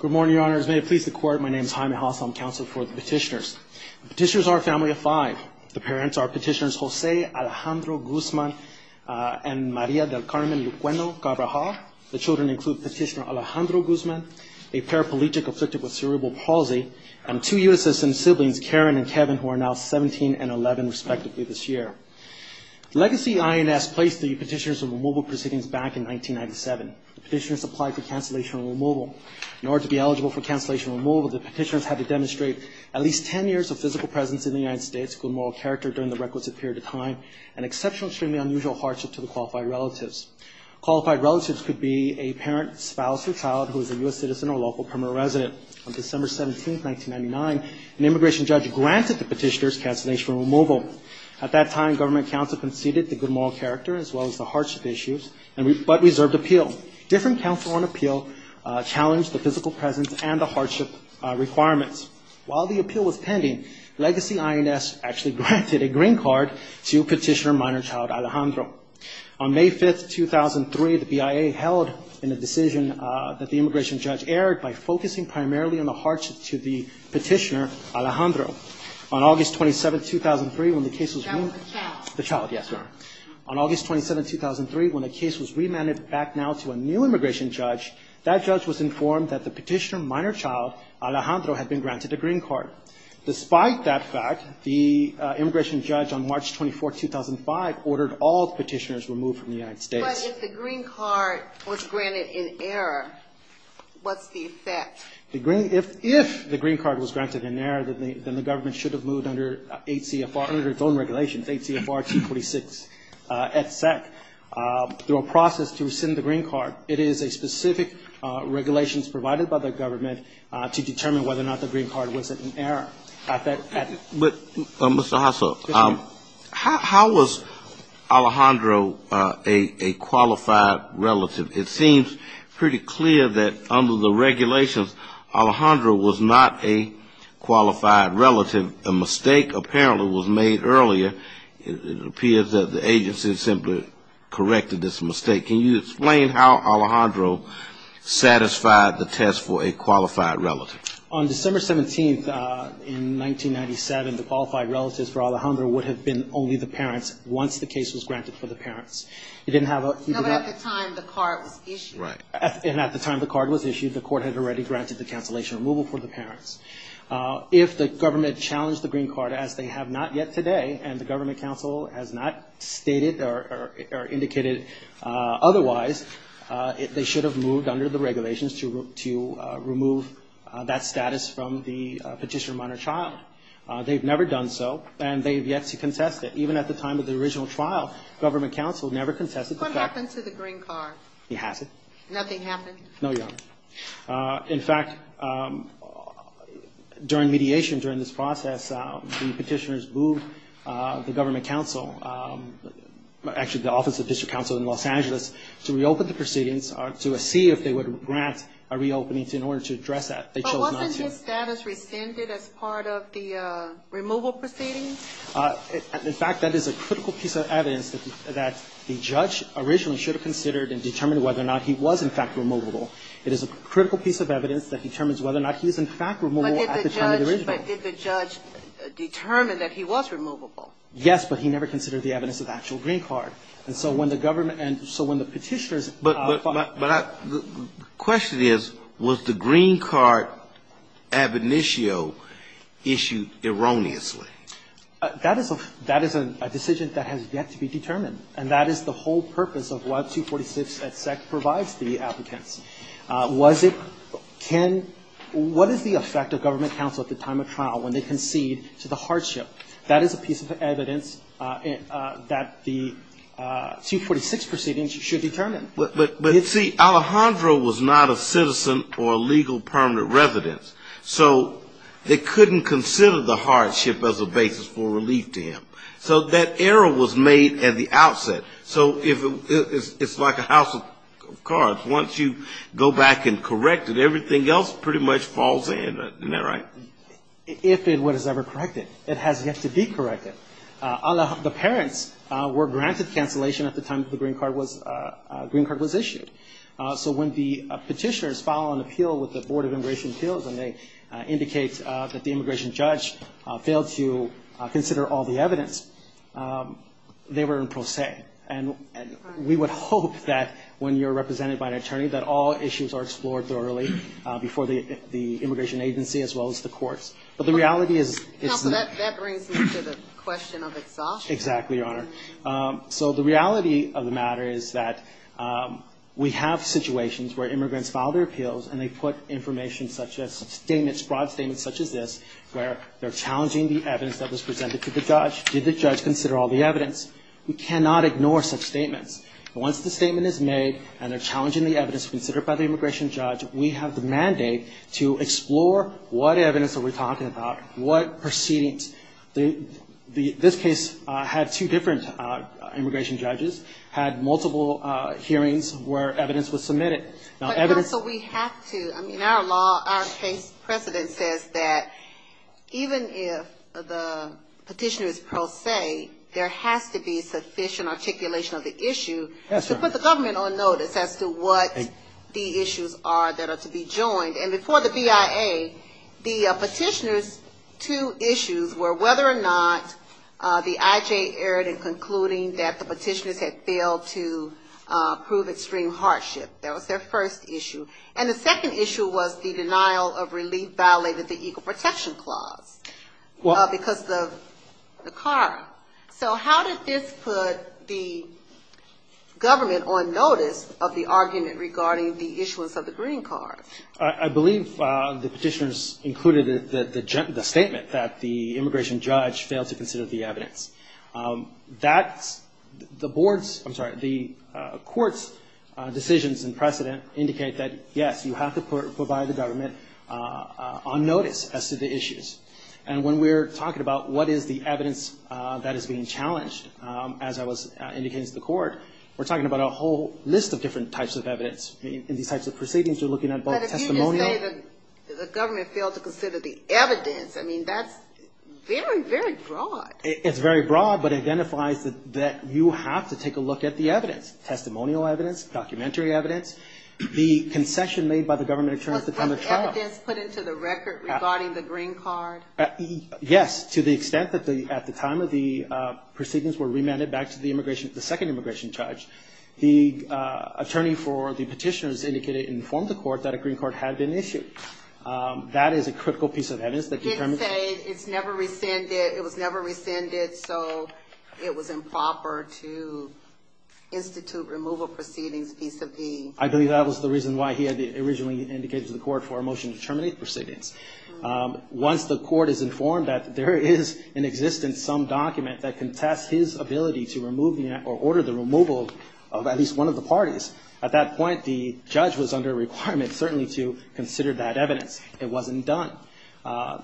Good morning, Your Honor. As may it please the Court, my name is Jaime Haas. I'm counsel for the petitioners. The petitioners are a family of five. The parents are Petitioners Jose Alejandro Guzman and Maria del Carmen Luqueno Cabraja. The children include Petitioner Alejandro Guzman, a paraplegic afflicted with cerebral palsy, and two USSN siblings, Karen and Kevin, who are now 17 and 11, respectively, this year. Legacy INS placed the petitioners on removal proceedings back in 1997. The petitioners applied for cancellation and removal. In order to be eligible for cancellation and removal, the petitioners had to demonstrate at least 10 years of physical presence in the United States, good moral character during the requisite period of time, and exceptional, extremely unusual hardship to the qualified relatives. Qualified relatives could be a parent, spouse, or child who is a U.S. citizen or local permanent resident. On December 17, 1999, an immigration judge granted the petitioners cancellation and removal. At that time, government counsel conceded the good moral character as well as the hardship issues, but reserved appeal. Different counsel on appeal challenged the physical presence and the hardship requirements. While the appeal was pending, Legacy INS actually granted a green card to Petitioner Minor Child Alejandro. On May 5, 2003, the BIA held in a decision that the immigration judge aired by focusing primarily on the hardship to the Petitioner Alejandro. On August 27, 2003, when the case was moved, the child, yes, ma'am. On August 27, 2003, when the case was remanded back now to a new immigration judge, that judge was informed that the Petitioner Minor Child Alejandro had been granted a green card. Despite that fact, the immigration judge on March 24, 2005, ordered all petitioners removed from the United States. But if the green card was granted in error, what's the effect? If the green card was granted in error, then the government should have moved under H.C.F.R. under its own regulations, H.C.F.R. 246, et cetera, through a process to rescind the green card. It is a specific regulations provided by the government to determine whether or not the green card was in error. But, Mr. Hasso, how was Alejandro a qualified relative? It seems pretty clear that under the regulations, Alejandro was not a qualified relative. A mistake, apparently, was made earlier. It appears that the agency simply corrected this mistake. Can you explain how Alejandro satisfied the test for a qualified relative? On December 17, 1997, the qualified relatives for Alejandro would have been only the parents once the case was granted for the parents. It didn't have a... It didn't challenge the green card, as they have not yet today, and the government counsel has not stated or indicated otherwise. They should have moved under the regulations to remove that status from the petitioner minor child. They've never done so, and they've yet to contest it. Even at the time of the original trial, government counsel never contested the fact... No, Your Honor. In fact, during mediation during this process, the petitioners moved the government counsel, actually the office of district counsel in Los Angeles, to reopen the proceedings to see if they would grant a reopening in order to address that. But wasn't his status rescinded as part of the removal proceedings? In fact, that is a critical piece of evidence that the judge originally should have considered and determined whether or not he was, in fact, removable. It is a critical piece of evidence that determines whether or not he is, in fact, removable at the time of the original. But did the judge determine that he was removable? Yes, but he never considered the evidence of the actual green card. And so when the government and so when the petitioners... But the question is, was the green card ab initio issued erroneously? That is a decision that has yet to be determined. And that is the whole purpose of what 246et sec provides the applicants. Was it can what is the effect of government counsel at the time of trial when they concede to the hardship? That is a piece of evidence that the 246 proceedings should determine. But see, Alejandro was not a citizen or a legal permanent resident. So they couldn't consider the hardship as a basis for relief to him. So that error was made at the outset. So it's like a house of cards. Once you go back and correct it, everything else pretty much falls in. Isn't that right? If it was ever corrected. It has yet to be corrected. The parents were granted cancellation at the time the green card was issued. So when the petitioners file an appeal with the Board of Immigration Appeals and they indicate that the immigration judge failed to consider all the evidence, they were in pro se. And we would hope that when you're represented by an attorney that all issues are explored thoroughly before the immigration agency as well as the courts. But the reality is it's not. Counsel, that brings me to the question of exhaustion. Exactly, Your Honor. So the reality of the matter is that we have situations where immigrants file their appeals and they put information such as statements, broad statements such as this, where they're challenging the evidence that was presented to the judge. Did the judge consider all the evidence? We cannot ignore such statements. Once the statement is made and they're challenging the evidence considered by the immigration judge, we have the mandate to explore what evidence are we talking about, what proceedings. This case had two different immigration judges, had multiple hearings where evidence was submitted. So we have to. I mean, our law, our case precedent says that even if the petitioner is pro se, there has to be sufficient articulation of the issue to put the government on notice as to what the issues are that are to be joined. And before the BIA, the petitioner's two issues were whether or not the IJ erred in concluding that the petitioners had failed to prove extreme hardship. That was their first issue. And the second issue was the denial of relief violated the equal protection clause because of the CARA. So how did this put the government on notice of the argument regarding the issuance of the green card? I believe the petitioners included the statement that the immigration judge failed to consider the evidence. That's the board's, I'm sorry, the court's decisions and precedent indicate that, yes, you have to provide the government on notice as to the issues. And when we're talking about what is the evidence that is being challenged, as I was indicating to the court, we're talking about a whole list of different types of evidence. In these types of proceedings, you're looking at both testimonial. But if you just say that the government failed to consider the evidence, I mean, that's very, very broad. It's very broad but identifies that you have to take a look at the evidence, testimonial evidence, documentary evidence, the concession made by the government in terms of the kind of trial. Was evidence put into the record regarding the green card? Yes, to the extent that at the time of the proceedings were remanded back to the immigration, the second immigration judge, the attorney for the petitioners indicated and informed the court that a green card had been issued. That is a critical piece of evidence that determines. He did say it's never rescinded, it was never rescinded, so it was improper to institute removal proceedings vis-a-vis. I believe that was the reason why he had originally indicated to the court for a motion to terminate the proceedings. Once the court is informed that there is in existence some document that contests his ability to remove or order the removal of at least one of the parties, at that point the judge was under a requirement certainly to consider that evidence. It wasn't done.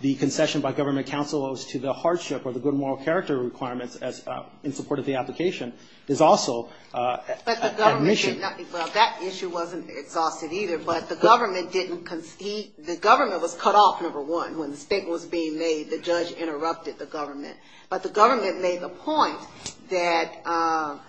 The concession by government counsel as to the hardship or the good moral character requirements in support of the application is also admission. Well, that issue wasn't exhausted either, but the government didn't concede. The government was cut off, number one. When the statement was being made, the judge interrupted the government. But the government made the point that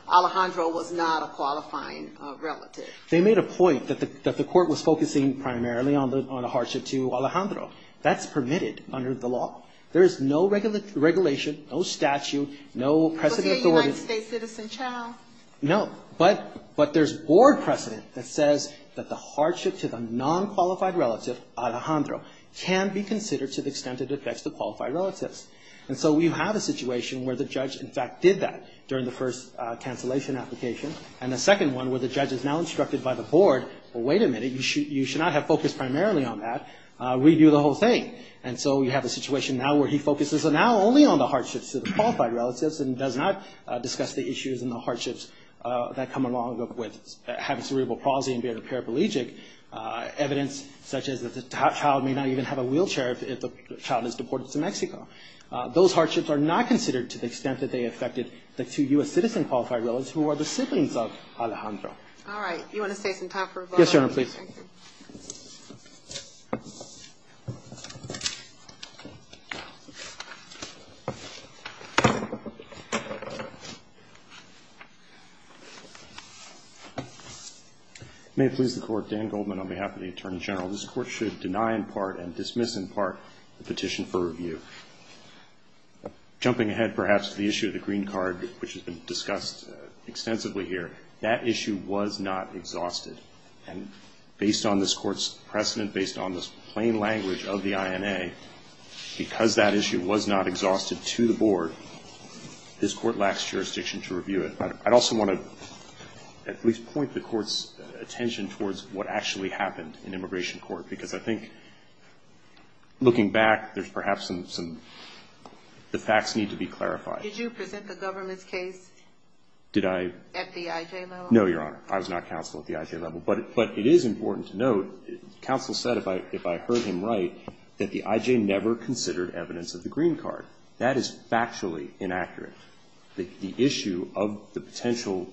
Alejandro was not a qualifying relative. They made a point that the court was focusing primarily on the hardship to Alejandro. That's permitted under the law. There is no regulation, no statute, no precedent authority. Was he a United States citizen child? No, but there's board precedent that says that the hardship to the non-qualified relative, Alejandro, can be considered to the extent it affects the qualified relatives. And so we have a situation where the judge, in fact, did that during the first cancellation application. And the second one where the judge is now instructed by the board, well, wait a minute, you should not have focused primarily on that. Redo the whole thing. And so we have a situation now where he focuses now only on the hardships to the qualified relatives and does not discuss the issues and the hardships that come along with having cerebral palsy and being a paraplegic. Evidence such as that the child may not even have a wheelchair if the child is deported to Mexico. Those hardships are not considered to the extent that they affected the two U.S. citizen qualified relatives who are the siblings of Alejandro. All right. Do you want to say some time for a vote? Yes, Your Honor, please. Thank you. May it please the Court. Dan Goldman on behalf of the Attorney General. This Court should deny in part and dismiss in part the petition for review. Jumping ahead perhaps to the issue of the green card, which has been discussed extensively here, that issue was not exhausted. And based on this Court's precedent, based on the plain language of the INA, because that issue was not exhausted to the board, this Court lacks jurisdiction to review it. I'd also want to at least point the Court's attention towards what actually happened in immigration court, because I think looking back, there's perhaps some, the facts need to be clarified. Did you present the government's case? Did I? At the IJ level? No, Your Honor. I was not counsel at the IJ level. But it is important to note, counsel said, if I heard him right, that the IJ never considered evidence of the green card. The issue of the potential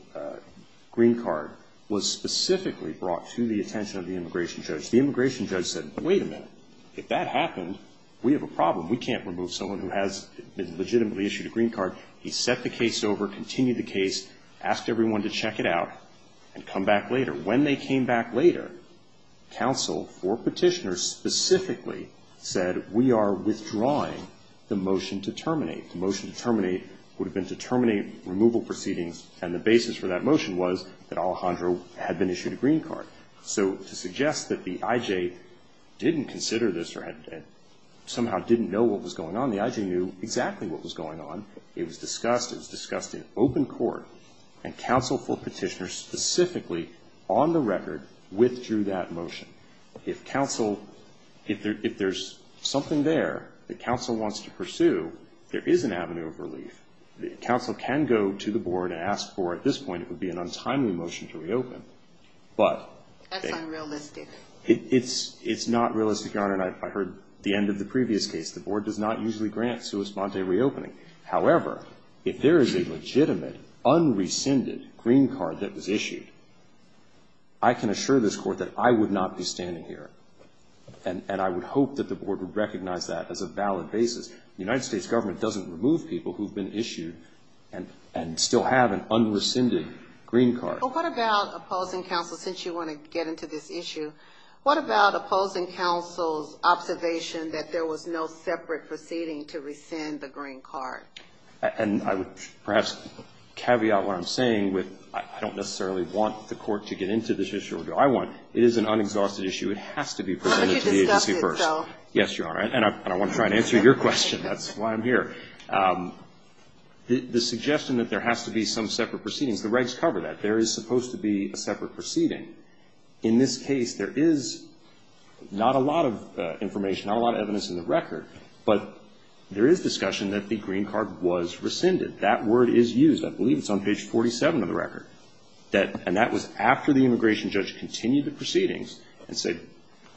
green card was specifically brought to the attention of the immigration judge. The immigration judge said, wait a minute. If that happened, we have a problem. We can't remove someone who has been legitimately issued a green card. He set the case over, continued the case, asked everyone to check it out, and come back later. When they came back later, counsel for petitioners specifically said, we are withdrawing the motion to terminate. The motion to terminate would have been to terminate removal proceedings, and the basis for that motion was that Alejandro had been issued a green card. So to suggest that the IJ didn't consider this or somehow didn't know what was going on, the IJ knew exactly what was going on. It was discussed. It was discussed in open court. And counsel for petitioners specifically, on the record, withdrew that motion. If counsel, if there's something there that counsel wants to pursue, there is an avenue of relief. Counsel can go to the board and ask for, at this point, it would be an untimely motion to reopen. That's unrealistic. It's not realistic, Your Honor, and I heard the end of the previous case. The board does not usually grant sua sponte reopening. However, if there is a legitimate, unrescinded green card that was issued, I can assure this Court that I would not be standing here, and I would hope that the board would recognize that as a valid basis. The United States government doesn't remove people who have been issued and still have an unrescinded green card. But what about opposing counsel, since you want to get into this issue, what about opposing counsel's observation that there was no separate proceeding to rescind the green card? And I would perhaps caveat what I'm saying with, I don't necessarily want the court to get into this issue. I want, it is an unexhausted issue. It has to be presented to the agency first. Yes, Your Honor, and I want to try to answer your question. That's why I'm here. The suggestion that there has to be some separate proceedings, the regs cover that. There is supposed to be a separate proceeding. In this case, there is not a lot of information, not a lot of evidence in the record, but there is discussion that the green card was rescinded. That word is used. I believe it's on page 47 of the record. And that was after the immigration judge continued the proceedings and said,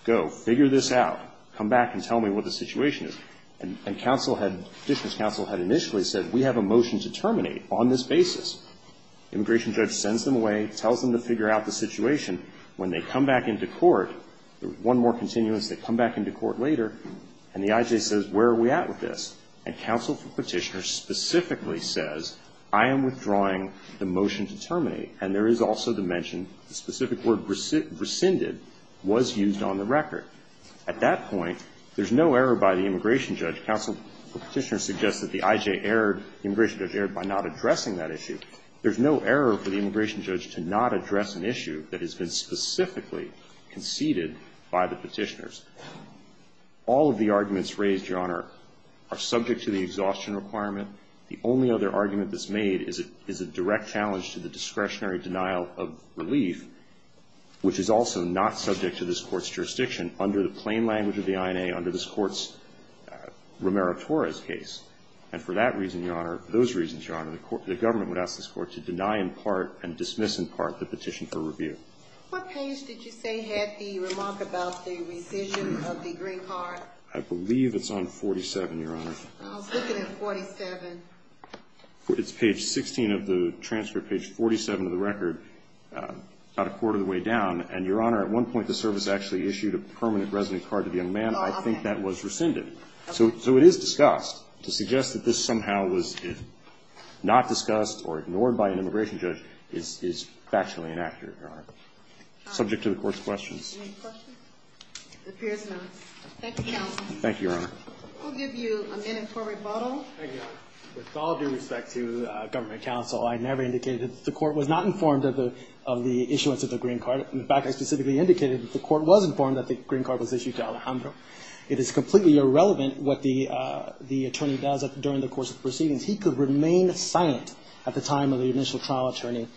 go, figure this out. Come back and tell me what the situation is. And counsel had, petitioner's counsel had initially said, we have a motion to terminate on this basis. Immigration judge sends them away, tells them to figure out the situation. When they come back into court, one more continuance, they come back into court later, and the I.J. says, where are we at with this? And counsel for petitioner specifically says, I am withdrawing the motion to terminate. And there is also the mention, the specific word rescinded was used on the record. At that point, there's no error by the immigration judge. Counsel for petitioner suggests that the I.J. erred, immigration judge erred by not addressing that issue. There's no error for the immigration judge to not address an issue that has been specifically conceded by the petitioners. All of the arguments raised, Your Honor, are subject to the exhaustion requirement. The only other argument that's made is a direct challenge to the discretionary denial of relief, which is also not subject to this Court's jurisdiction under the plain language of the I.N.A., under this Court's Romero-Torres case. And for that reason, Your Honor, for those reasons, Your Honor, the government would ask this Court to deny in part and dismiss in part the petition for review. What page did you say had the remark about the rescission of the green card? I believe it's on 47, Your Honor. I was looking at 47. It's page 16 of the transfer, page 47 of the record, about a quarter of the way down. And, Your Honor, at one point the service actually issued a permanent resident card to the young man. I think that was rescinded. So it is discussed. To suggest that this somehow was not discussed or ignored by an immigration judge is factually inaccurate, Your Honor. Subject to the Court's questions. Any questions? It appears not. Thank you, Your Honor. Thank you, Your Honor. We'll give you a minute for rebuttal. Thank you, Your Honor. With all due respect to government counsel, I never indicated that the Court was not informed of the issuance of the green card. In fact, I specifically indicated that the Court was informed that the green card was issued to Alejandro. It is completely irrelevant what the attorney does during the course of proceedings. He could remain silent at the time of the initial trial. It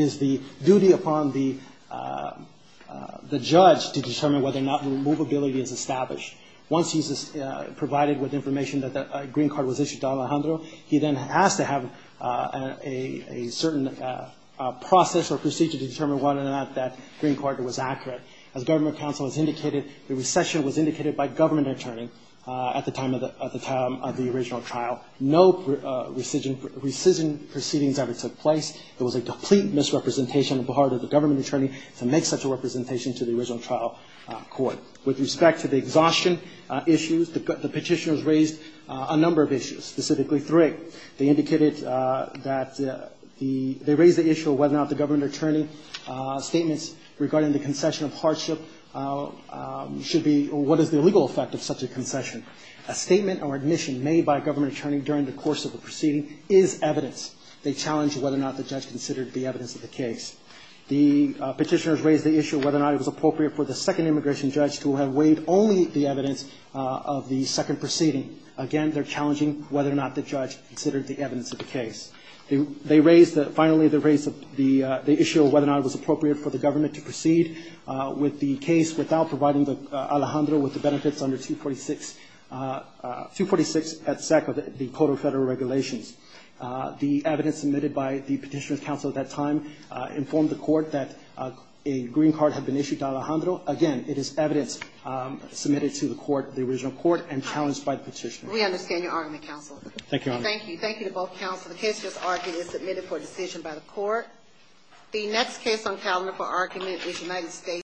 is the duty upon the judge to determine whether or not removability is established. Once he's provided with information that a green card was issued to Alejandro, he then has to have a certain process or procedure to determine whether or not that green card was accurate. As government counsel has indicated, the recession was indicated by government attorney at the time of the original trial. No rescission proceedings ever took place. It was a complete misrepresentation on behalf of the government attorney to make such a representation to the original trial court. With respect to the exhaustion issues, the petitioners raised a number of issues, specifically three. They indicated that the they raised the issue of whether or not the government attorney statements regarding the concession of hardship should be or what is the legal effect of such a concession. A statement or admission made by a government attorney during the course of the proceeding is evidence. They challenge whether or not the judge considered the evidence of the case. The petitioners raised the issue of whether or not it was appropriate for the second immigration judge to have waived only the evidence of the second proceeding. Again, they're challenging whether or not the judge considered the evidence of the case. They raised the, finally they raised the issue of whether or not it was appropriate for the government to proceed with the case without providing Alejandro with the benefits under 246, 246 SEC of the Code of Federal Regulations. The evidence submitted by the petitioner's counsel at that time informed the court that a green card had been issued to Alejandro. Again, it is evidence submitted to the court, the original court and challenged by the petitioner. We understand your argument, counsel. Thank you, Your Honor. Thank you. The case is submitted to both counsel. The case is argued and submitted for decision by the court. The next case on calendar for argument is United States v.